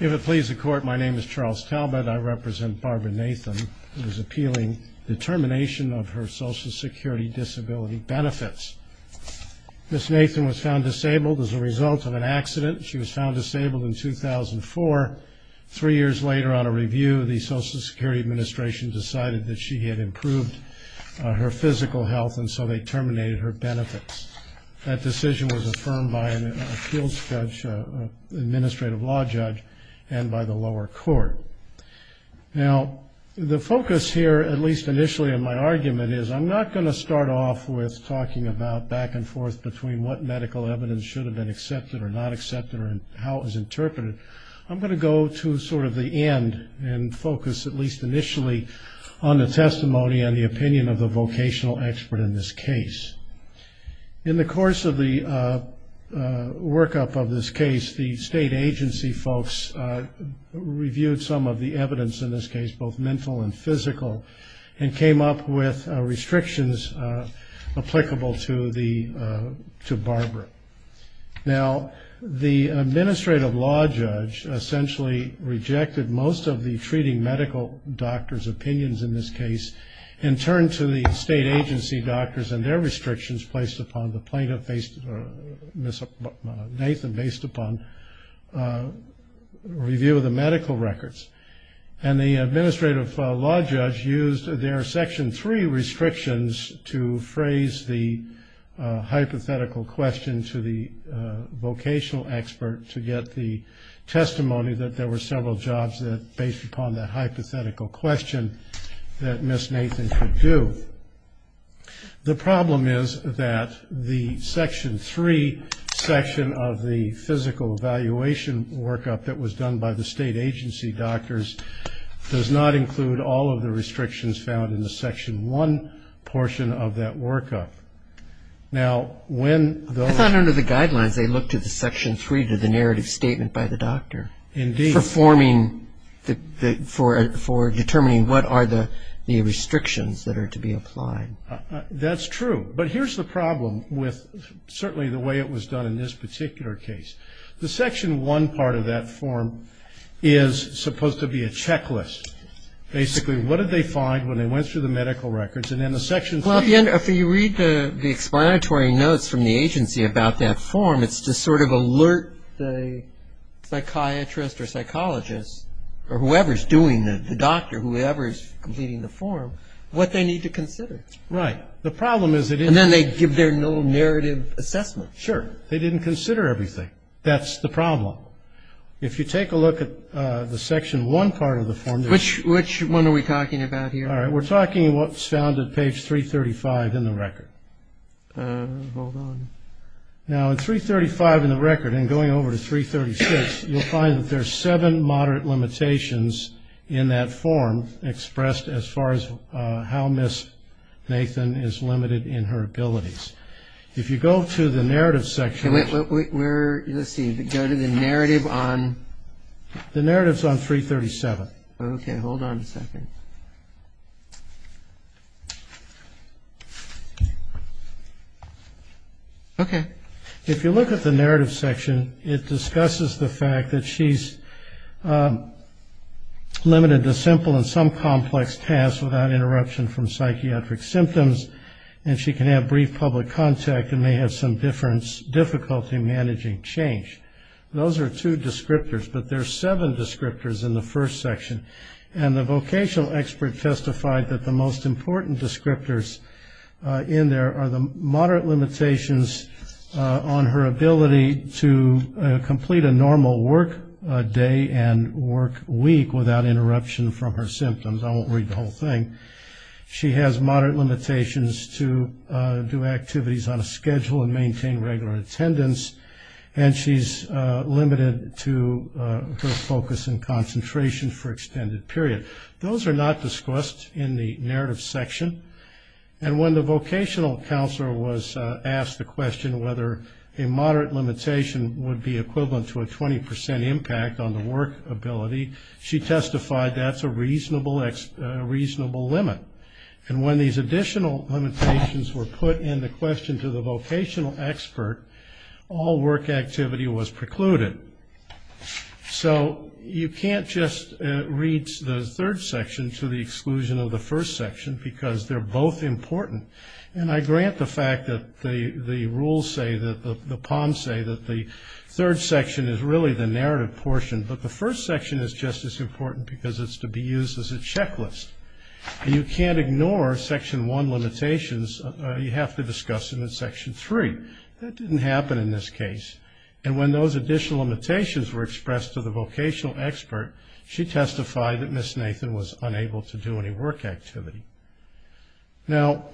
If it pleases the Court, my name is Charles Talbott. I represent Barbara Nathan. It is appealing the termination of her Social Security Disability Benefits. Ms. Nathan was found disabled as a result of an accident. She was found disabled in 2004. Three years later, on a review, the Social Security Administration decided that she had improved her physical health, and so they terminated her benefits. That decision was affirmed by an appeals judge, an administrative law judge, and by the lower court. Now, the focus here, at least initially in my argument, is I'm not going to start off with talking about back and forth between what medical evidence should have been accepted or not accepted or how it was interpreted. I'm going to go to sort of the end and focus at least initially on the testimony and the opinion of the vocational expert in this case. In the course of the workup of this case, the state agency folks reviewed some of the evidence in this case, both mental and physical, and came up with restrictions applicable to Barbara. Now, the administrative law judge essentially rejected most of the treating medical doctor's opinions in this case and turned to the state agency doctors and their restrictions placed upon the plaintiff based, or Ms. Nathan based upon review of the medical records. And the administrative law judge used their section three restrictions to phrase the hypothetical question to the vocational expert to get the testimony that there were several jobs that, based upon the hypothetical question, that Ms. Nathan could do. The problem is that the section three section of the physical evaluation workup that was done by the state agency doctors does not include all of the restrictions found in the section one portion of that workup. I thought under the guidelines they looked at the section three to the narrative statement by the doctor. Indeed. For determining what are the restrictions that are to be applied. That's true. But here's the problem with certainly the way it was done in this particular case. The section one part of that form is supposed to be a checklist. Basically, what did they find when they went through the medical records? And then the section three. Well, if you read the explanatory notes from the agency about that form, it's to sort of alert the psychiatrist or psychologist or whoever is doing the doctor, whoever is completing the form, what they need to consider. Right. The problem is. And then they give their little narrative assessment. Sure. They didn't consider everything. That's the problem. If you take a look at the section one part of the form. Which one are we talking about here? All right. We're talking what's found at page 335 in the record. Hold on. Now, at 335 in the record and going over to 336, you'll find that there's seven moderate limitations in that form expressed as far as how Ms. Nathan is limited in her abilities. If you go to the narrative section. Wait. Let's see. Go to the narrative on. The narrative is on 337. Okay. Hold on a second. Okay. If you look at the narrative section, it discusses the fact that she's limited to simple and some complex tasks without interruption from psychiatric symptoms, and she can have brief public contact and may have some difficulty managing change. Those are two descriptors, but there's seven descriptors in the first section. And the vocational expert testified that the most important descriptors in there are the moderate limitations on her ability to complete a normal work day and work week without interruption from her symptoms. I won't read the whole thing. She has moderate limitations to do activities on a schedule and maintain regular attendance, and she's limited to her focus and concentration for extended period. Those are not discussed in the narrative section. And when the vocational counselor was asked the question whether a moderate limitation would be equivalent to a 20% impact on the work ability, she testified that's a reasonable limit. And when these additional limitations were put in the question to the vocational expert, all work activity was precluded. So you can't just read the third section to the exclusion of the first section because they're both important. And I grant the fact that the rules say that the POMs say that the third section is really the narrative portion, but the first section is just as important because it's to be used as a checklist. And you can't ignore Section 1 limitations. You have to discuss them in Section 3. That didn't happen in this case. And when those additional limitations were expressed to the vocational expert, she testified that Ms. Nathan was unable to do any work activity. Now,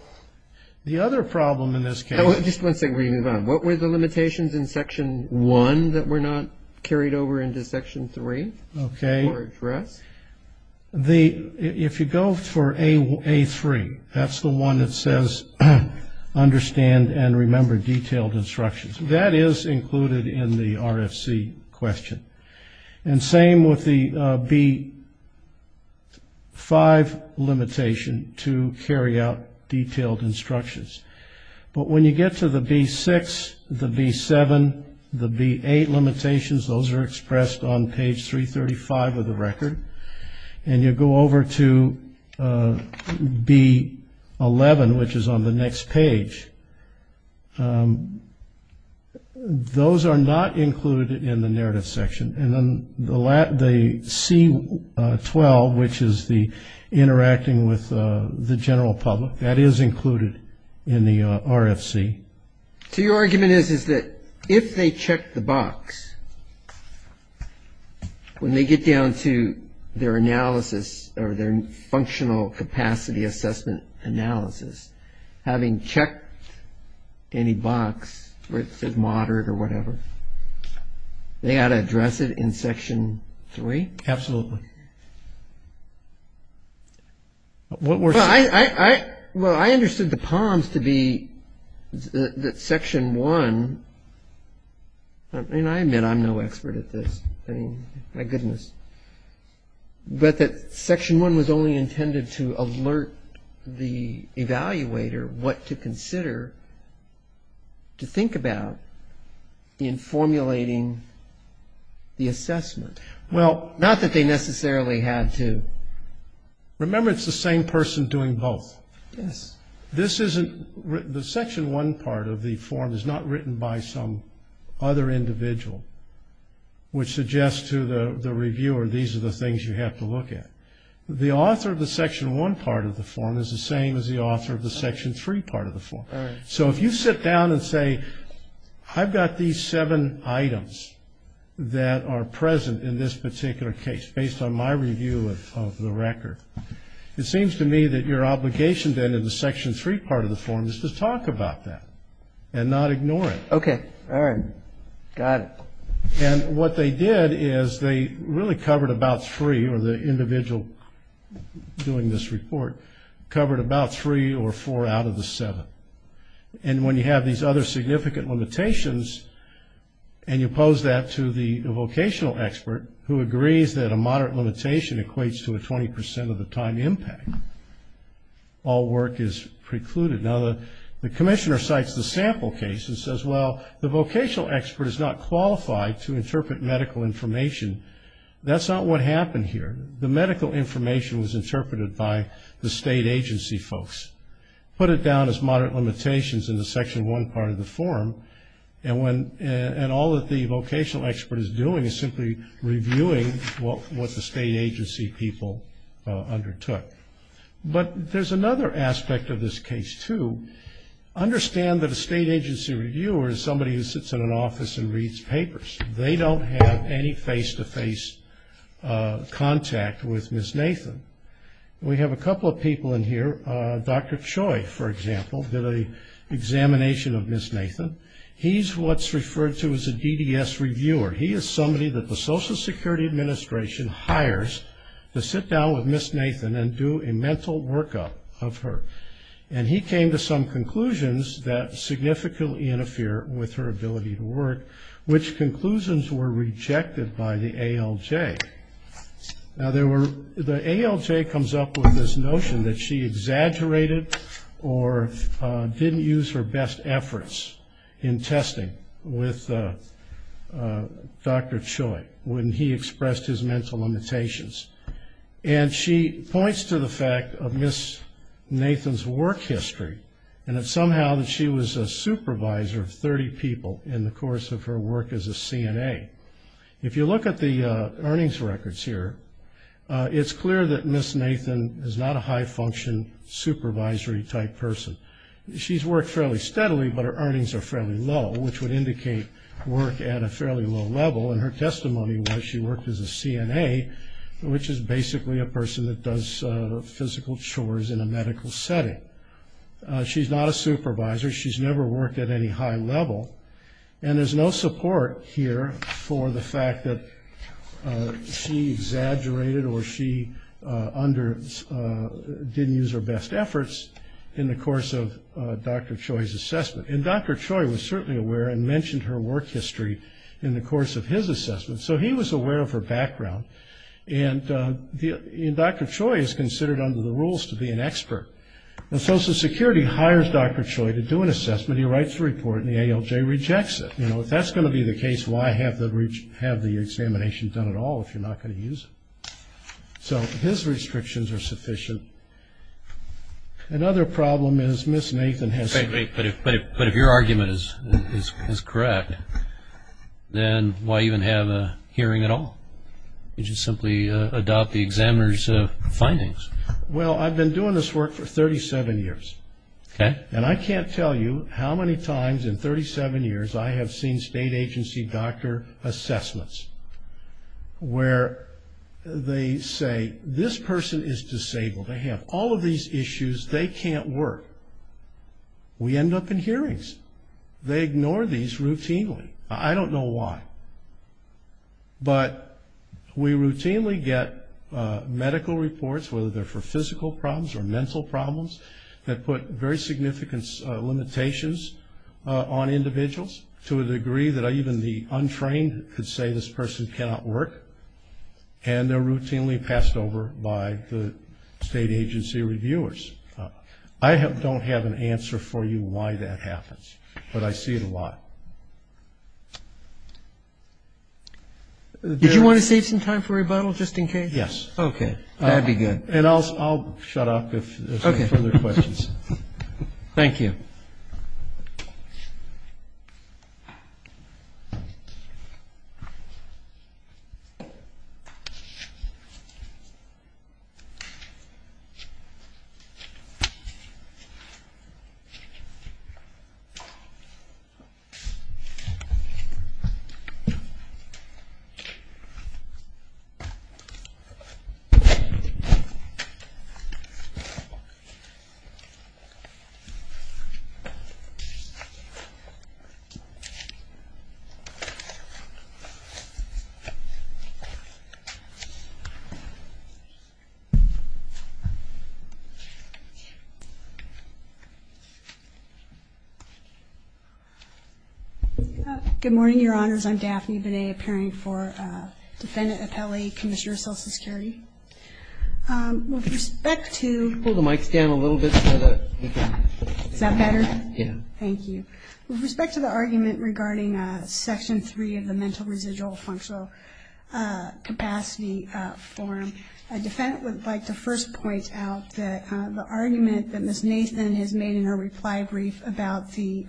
the other problem in this case. Just one second before you move on. What were the limitations in Section 1 that were not carried over into Section 3 for us? If you go for A3, that's the one that says understand and remember detailed instructions. That is included in the RFC question. And same with the B5 limitation to carry out detailed instructions. But when you get to the B6, the B7, the B8 limitations, those are expressed on page 335 of the record. And you go over to B11, which is on the next page. Those are not included in the narrative section. And then the C12, which is the interacting with the general public, that is included in the RFC. So your argument is, is that if they check the box, when they get down to their analysis or their functional capacity assessment analysis, having checked any box where it says moderate or whatever, they ought to address it in Section 3? Absolutely. Well, I understood the palms to be that Section 1, and I admit I'm no expert at this. I mean, my goodness. But that Section 1 was only intended to alert the evaluator what to consider to think about in formulating the assessment. Not that they necessarily had to. Remember, it's the same person doing both. Yes. The Section 1 part of the form is not written by some other individual, which suggests to the reviewer these are the things you have to look at. The author of the Section 1 part of the form is the same as the author of the Section 3 part of the form. All right. So if you sit down and say, I've got these seven items that are present in this particular case, based on my review of the record, it seems to me that your obligation then in the Section 3 part of the form is to talk about that and not ignore it. Okay. All right. Got it. And what they did is they really covered about three, or the individual doing this report covered about three or four out of the seven. And when you have these other significant limitations and you pose that to the vocational expert, who agrees that a moderate limitation equates to a 20% of the time impact, all work is precluded. Now, the commissioner cites the sample case and says, well, the vocational expert is not qualified to interpret medical information. That's not what happened here. The medical information was interpreted by the state agency folks, put it down as moderate limitations in the Section 1 part of the form, and all that the vocational expert is doing is simply reviewing what the state agency people undertook. But there's another aspect of this case, too. Understand that a state agency reviewer is somebody who sits in an office and reads papers. They don't have any face-to-face contact with Ms. Nathan. We have a couple of people in here. Dr. Choi, for example, did an examination of Ms. Nathan. He's what's referred to as a DDS reviewer. He is somebody that the Social Security Administration hires to sit down with Ms. Nathan and do a mental workup of her. And he came to some conclusions that significantly interfere with her ability to work, which conclusions were rejected by the ALJ. Now, the ALJ comes up with this notion that she exaggerated or didn't use her best efforts in testing with Dr. Choi when he expressed his mental limitations. And she points to the fact of Ms. Nathan's work history and that somehow she was a supervisor of 30 people in the course of her work as a CNA. If you look at the earnings records here, it's clear that Ms. Nathan is not a high-function supervisory-type person. She's worked fairly steadily, but her earnings are fairly low, which would indicate work at a fairly low level. And her testimony was she worked as a CNA, which is basically a person that does physical chores in a medical setting. She's not a supervisor. She's never worked at any high level. And there's no support here for the fact that she exaggerated or she didn't use her best efforts in the course of Dr. Choi's assessment. And Dr. Choi was certainly aware and mentioned her work history in the course of his assessment. So he was aware of her background. And Dr. Choi is considered under the rules to be an expert. And Social Security hires Dr. Choi to do an assessment. He writes a report, and the ALJ rejects it. You know, if that's going to be the case, why have the examination done at all if you're not going to use it? So his restrictions are sufficient. Another problem is Ms. Nathan has to- But if your argument is correct, then why even have a hearing at all? You just simply adopt the examiner's findings. Well, I've been doing this work for 37 years. Okay. And I can't tell you how many times in 37 years I have seen state agency doctor assessments where they say, this person is disabled. They have all of these issues. They can't work. We end up in hearings. They ignore these routinely. I don't know why. But we routinely get medical reports, whether they're for physical problems or mental problems, that put very significant limitations on individuals to a degree that even the untrained could say this person cannot work. And they're routinely passed over by the state agency reviewers. I don't have an answer for you why that happens, but I see it a lot. Did you want to save some time for rebuttal, just in case? Yes. Okay. That would be good. And I'll shut off if there's any further questions. Thank you. Good morning, Your Honors. I'm Daphne Binet, appearing for defendant appellee, Commissioner of Social Security. With respect to the argument regarding Section 3 of the Mental Residual Functional Capacity Forum, a defendant would like to first point out that the argument that Ms. Nathan has made in her reply brief about the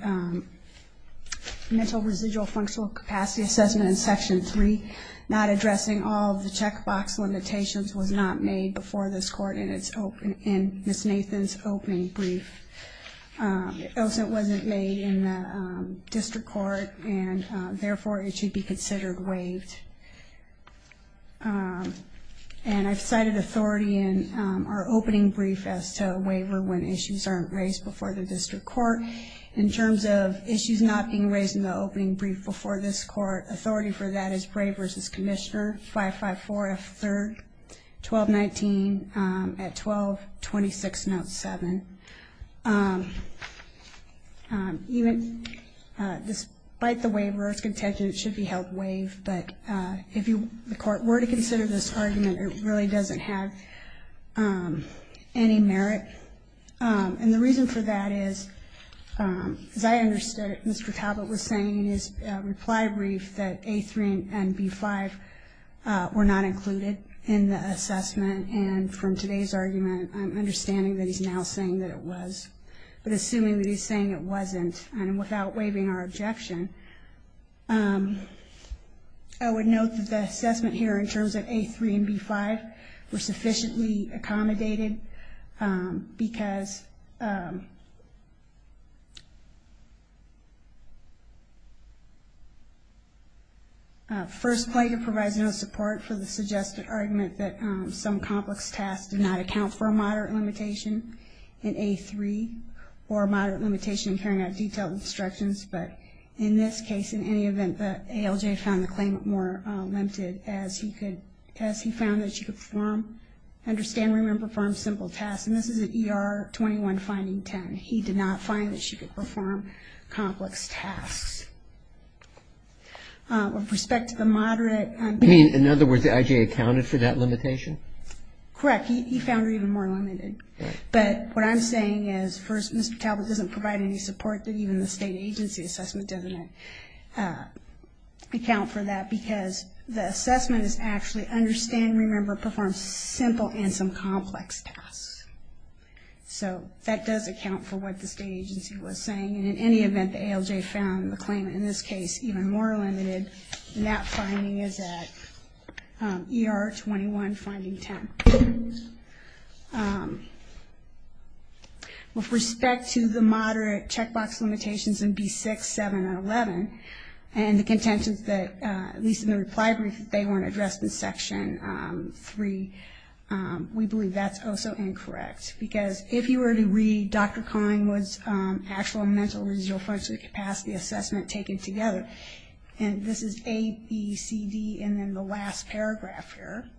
mental residual functional capacity assessment in Section 3, not addressing all of the checkbox limitations, was not made before this court in Ms. Nathan's opening brief. It wasn't made in the district court, and therefore it should be considered waived. And I've cited authority in our opening brief as to a waiver when issues aren't raised before the district court. In terms of issues not being raised in the opening brief before this court, authority for that is Bray v. Commissioner, 554F3, 1219 at 1226, note 7. Even despite the waiver, it's contention it should be held waived. But if the court were to consider this argument, it really doesn't have any merit. And the reason for that is, as I understood it, Mr. Talbot was saying in his reply brief that A3 and B5 were not included in the assessment. And from today's argument, I'm understanding that he's now saying that it was. But assuming that he's saying it wasn't, and without waiving our objection, I would note that the assessment here in terms of A3 and B5 were sufficiently accommodated because First, Clayton provides no support for the suggested argument that some complex tasks did not account for a moderate limitation in A3 or a moderate limitation in carrying out detailed instructions. But in this case, in any event, the ALJ found the claim more limited as he found that you could perform, understand, remember, perform simple tasks. And this is at ER 21, finding 10. He did not find that she could perform complex tasks. With respect to the moderate. I mean, in other words, the IJA accounted for that limitation? Correct. He found her even more limited. But what I'm saying is, first, Mr. Talbot doesn't provide any support that even the state agency assessment doesn't account for that because the assessment is actually understand, remember, perform simple and some complex tasks. So that does account for what the state agency was saying. And in any event, the ALJ found the claim, in this case, even more limited. And that finding is at ER 21, finding 10. With respect to the moderate checkbox limitations in B6, 7, and 11, and the contentions that, at least in the reply brief, that they weren't addressed in Section 3, we believe that's also incorrect. Because if you were to read Dr. Collingwood's actual mental residual function capacity assessment taken together, and this is A, B, C, D, and then the last paragraph here,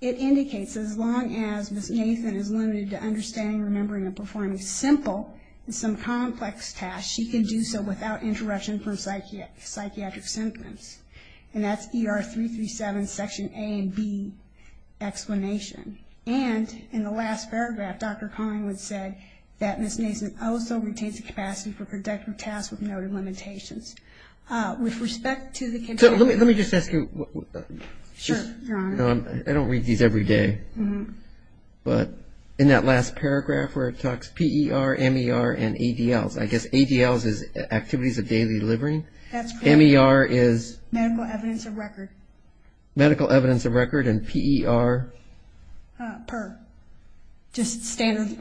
it indicates as long as Ms. Nathan is limited to understanding, remembering, and performing simple and some complex tasks, she can do so without interruption from psychiatric symptoms. And that's ER 337, Section A and B explanation. And in the last paragraph, Dr. Collingwood said that Ms. Nathan also retains the capacity for productive tasks with noted limitations. With respect to the contentions of ER 337, I guess ADLs is activities of daily living. That's correct. MER is? Medical evidence of record. Medical evidence of record. And PER? PER. Just standard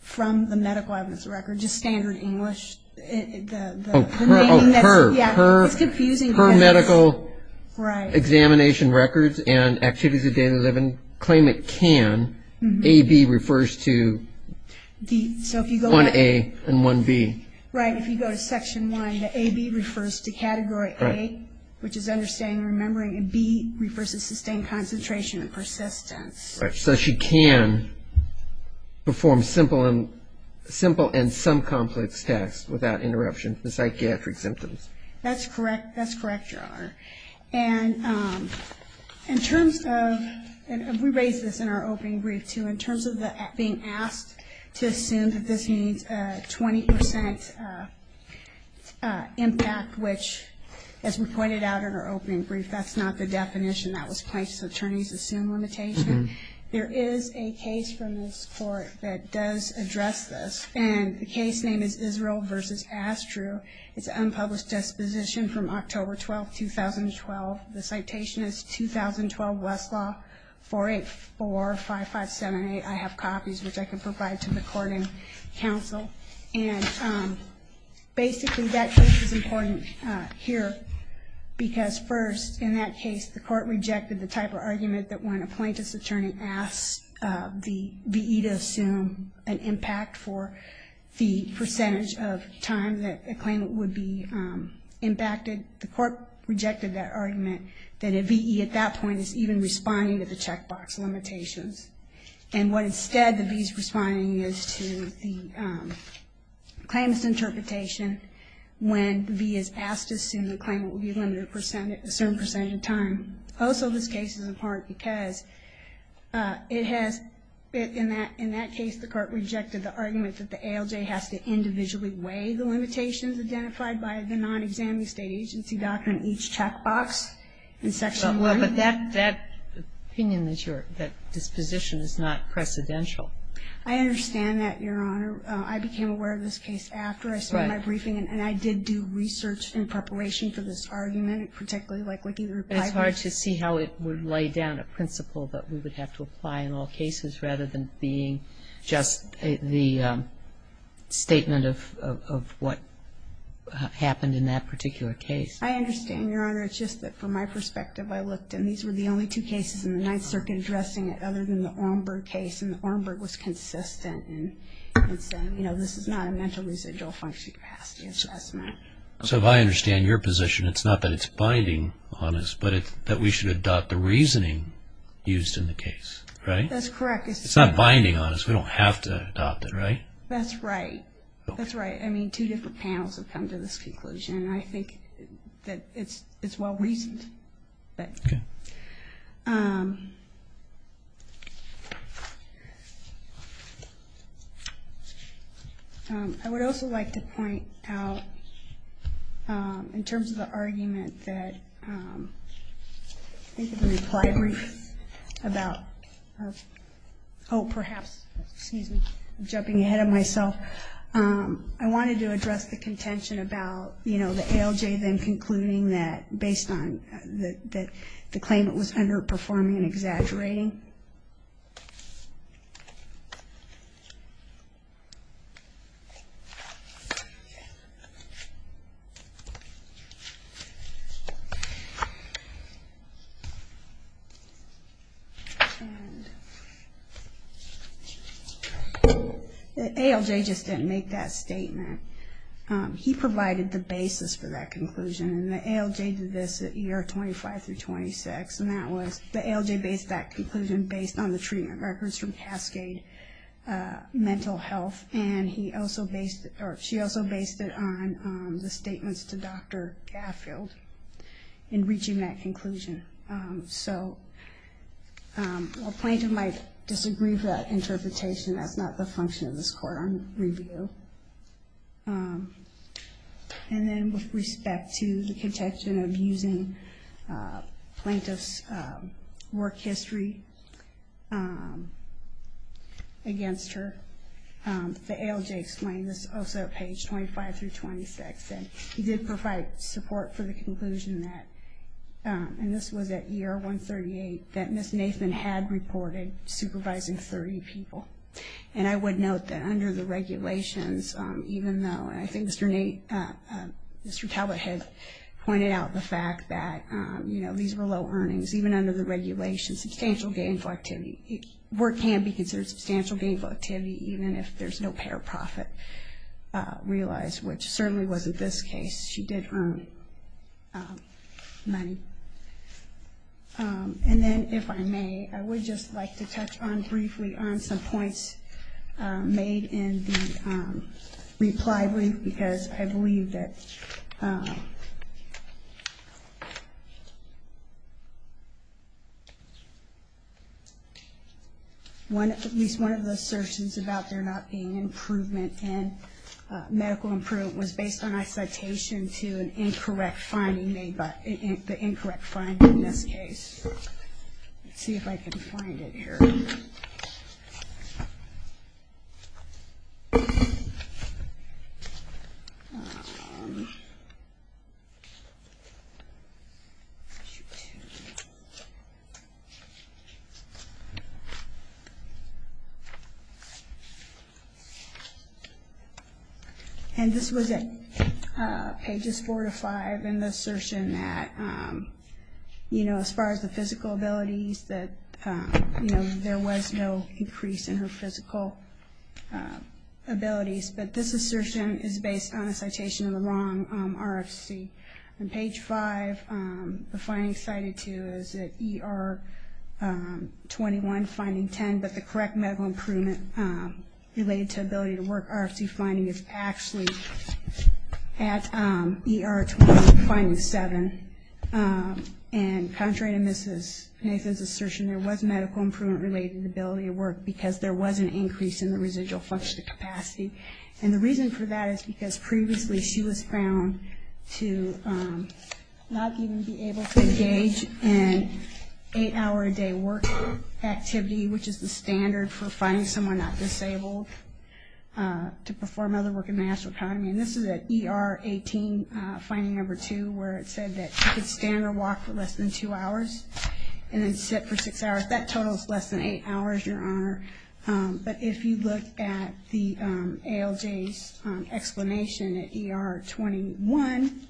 from the medical evidence of record. Just standard English. Oh, PER. Yeah, it's confusing. PER, medical examination records and activities of daily living. Claim it can. AB refers to 1A and 1B. Right. If you go to Section 1, the AB refers to Category A, which is understanding, remembering, and B refers to sustained concentration and persistence. Right. So she can perform simple and some complex tasks without interruption from psychiatric symptoms. That's correct. That's correct, Gerard. And in terms of, and we raised this in our opening brief too, in terms of being asked to assume that this means 20% impact, which as we pointed out in our opening brief, that's not the definition. That was plaintiff's attorney's assumed limitation. There is a case from this court that does address this, and the case name is Israel v. Astru. It's an unpublished disposition from October 12, 2012. The citation is 2012 Westlaw 4845578. I have copies, which I can provide to the court and counsel. And basically that case is important here because first, in that case, the court rejected the type of argument that when a plaintiff's attorney asks the V.E. to assume an impact for the percentage of time that a claimant would be impacted, the court rejected that argument that a V.E. at that point is even responding to the checkbox limitations. And what instead the V.E. is responding is to the claimant's interpretation when the V.E. is asked to assume the claimant would be limited a certain percentage of time. Also, this case is important because it has, in that case, the court rejected the argument that the ALJ has to individually weigh the limitations identified by the non-examining State agency doctrine each checkbox in Section 1. But that opinion, that disposition, is not precedential. I understand that, Your Honor. I became aware of this case after I submitted my briefing, and I did do research in preparation for this argument, particularly like what you replied to. But it's hard to see how it would lay down a principle that we would have to apply in all cases rather than being just the statement of what happened in that particular case. I understand, Your Honor. It's just that from my perspective, I looked, and these were the only two cases in the Ninth Circuit addressing it other than the Ornberg case. And the Ornberg was consistent in saying, you know, this is not a mental residual function past the assessment. So if I understand your position, it's not that it's binding on us, but that we should adopt the reasoning used in the case, right? That's correct. It's not binding on us. We don't have to adopt it, right? That's right. That's right. I mean, two different panels have come to this conclusion, and I think that it's well-reasoned. Okay. I would also like to point out, in terms of the argument that I think the reply brief about, oh, perhaps, excuse me, I'm jumping ahead of myself, I wanted to address the contention about, you know, ALJ then concluding that based on the claim it was underperforming and exaggerating. ALJ just didn't make that statement. He provided the basis for that conclusion, and the ALJ did this at year 25 through 26, and that was the ALJ based that conclusion based on the treatment records from Cascade Mental Health, and she also based it on the statements to Dr. Gaffield in reaching that conclusion. So a plaintiff might disagree with that interpretation. That's not the function of this court on review. And then with respect to the contention of using plaintiff's work history against her, the ALJ explained this also at page 25 through 26, and he did provide support for the conclusion that, and this was at year 138, that Ms. Nathan had reported supervising 30 people. And I would note that under the regulations, even though I think Mr. Talbot has pointed out the fact that, you know, these were low earnings, even under the regulations, substantial gainful activity, work can be considered substantial gainful activity even if there's no pay or profit realized, which certainly wasn't this case. She did earn money. And then if I may, I would just like to touch on briefly on some points made in the reply brief, because I believe that at least one of the assertions about there not being improvement in medical improvement was based on a citation to an incorrect finding made by, the incorrect finding in this case. Let's see if I can find it here. Let's see. And this was at pages four to five in the assertion that, you know, as far as the physical abilities, that, you know, there was no increase in her physical abilities. But this assertion is based on a citation of the wrong RFC. On page five, the finding cited to is that ER 21 finding 10, but the correct medical improvement related to ability to work RFC finding is actually at ER 21 finding seven. And contrary to Mrs. Nathan's assertion, there was medical improvement related to ability to work because there was an increase in the residual functional capacity. And the reason for that is because previously she was found to not even be able to engage in eight-hour-a-day work activity, which is the standard for finding someone not disabled to perform other work in the national economy. And this is at ER 18 finding number two where it said that she could stand or walk for less than two hours and then sit for six hours. That totals less than eight hours, Your Honor. But if you look at the ALJ's explanation at ER 21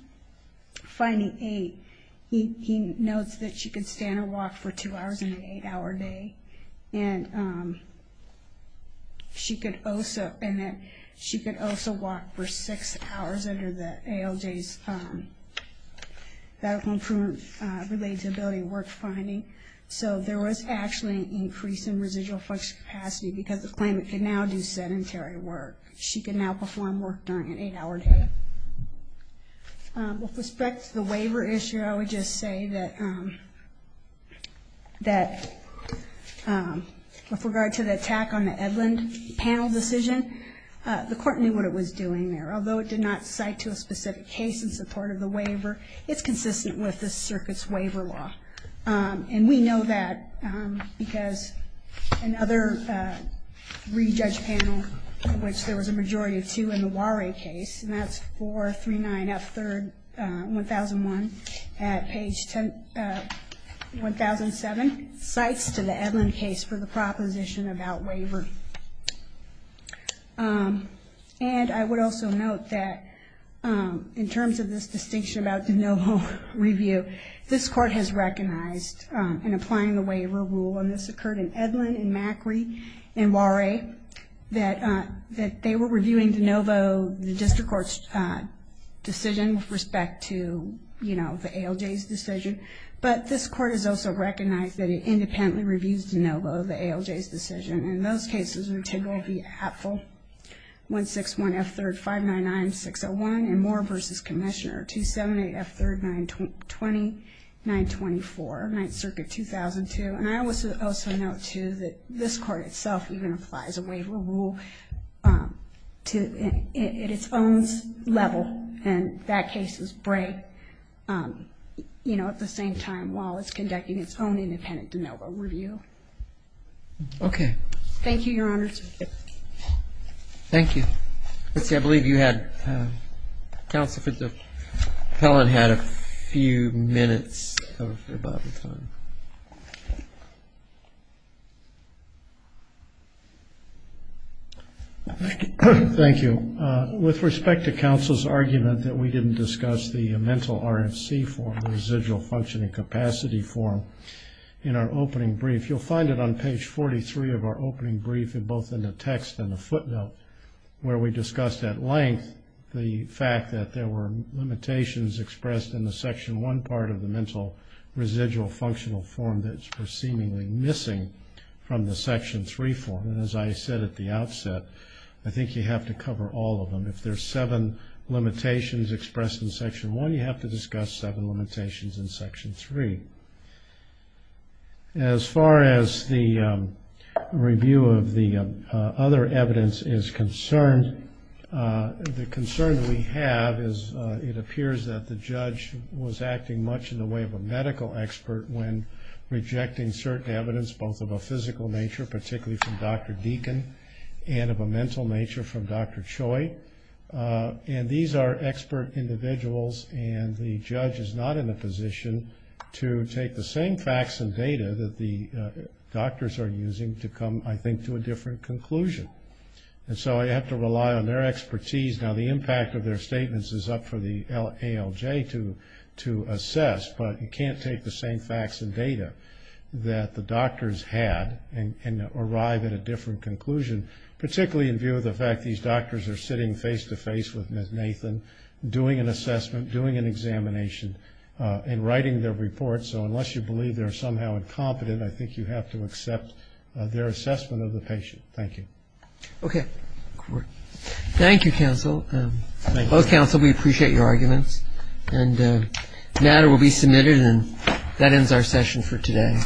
finding eight, he notes that she could stand or walk for two hours in an eight-hour day. And she could also walk for six hours under the ALJ's medical improvement related to ability to work finding. So there was actually an increase in residual functional capacity because the claimant can now do sedentary work. She can now perform work during an eight-hour day. With respect to the waiver issue, I would just say that with regard to the attack on the Edlund panel decision, the court knew what it was doing there. Although it did not cite to a specific case in support of the waiver, it's consistent with the circuit's waiver law. And we know that because another re-judge panel, which there was a majority of two in the Warray case, and that's 439F3-1001 at page 1007, cites to the Edlund case for the proposition about waiver. And I would also note that in terms of this distinction about de novo review, this court has recognized in applying the waiver rule, and this occurred in Edlund, in Macri, in Warray, that they were reviewing de novo the district court's decision with respect to, you know, the ALJ's decision. But this court has also recognized that it independently reviews de novo the ALJ's decision. And those cases are Tidwell v. Apfel, 161F3-599-601, and Moore v. Commissioner, 278F3-920-924, 9th Circuit, 2002. And I would also note, too, that this court itself even applies a waiver rule at its own level, and that case is Bray, you know, at the same time, while it's conducting its own independent de novo review. Okay. Thank you, Your Honors. Thank you. Let's see, I believe you had, Counsel, if the appellant had a few minutes of available time. Thank you. With respect to counsel's argument that we didn't discuss the mental RFC form, the residual functioning capacity form, in our opening brief, if you'll find it on page 43 of our opening brief, both in the text and the footnote, where we discussed at length the fact that there were limitations expressed in the Section 1 part of the mental residual functional form that's seemingly missing from the Section 3 form. And as I said at the outset, I think you have to cover all of them. If there's seven limitations expressed in Section 1, you have to discuss seven limitations in Section 3. As far as the review of the other evidence is concerned, the concern we have is it appears that the judge was acting much in the way of a medical expert when rejecting certain evidence, both of a physical nature, particularly from Dr. Deacon, and of a mental nature from Dr. Choi. And these are expert individuals, and the judge is not in a position to take the same facts and data that the doctors are using to come, I think, to a different conclusion. And so I have to rely on their expertise. Now, the impact of their statements is up for the ALJ to assess, but you can't take the same facts and data that the doctors had and arrive at a different conclusion, particularly in view of the fact these doctors are sitting face-to-face with Ms. Nathan, doing an assessment, doing an examination, and writing their report. So unless you believe they're somehow incompetent, I think you have to accept their assessment of the patient. Thank you. Okay. Thank you, counsel. Both counsel, we appreciate your arguments. And the matter will be submitted, and that ends our session for today.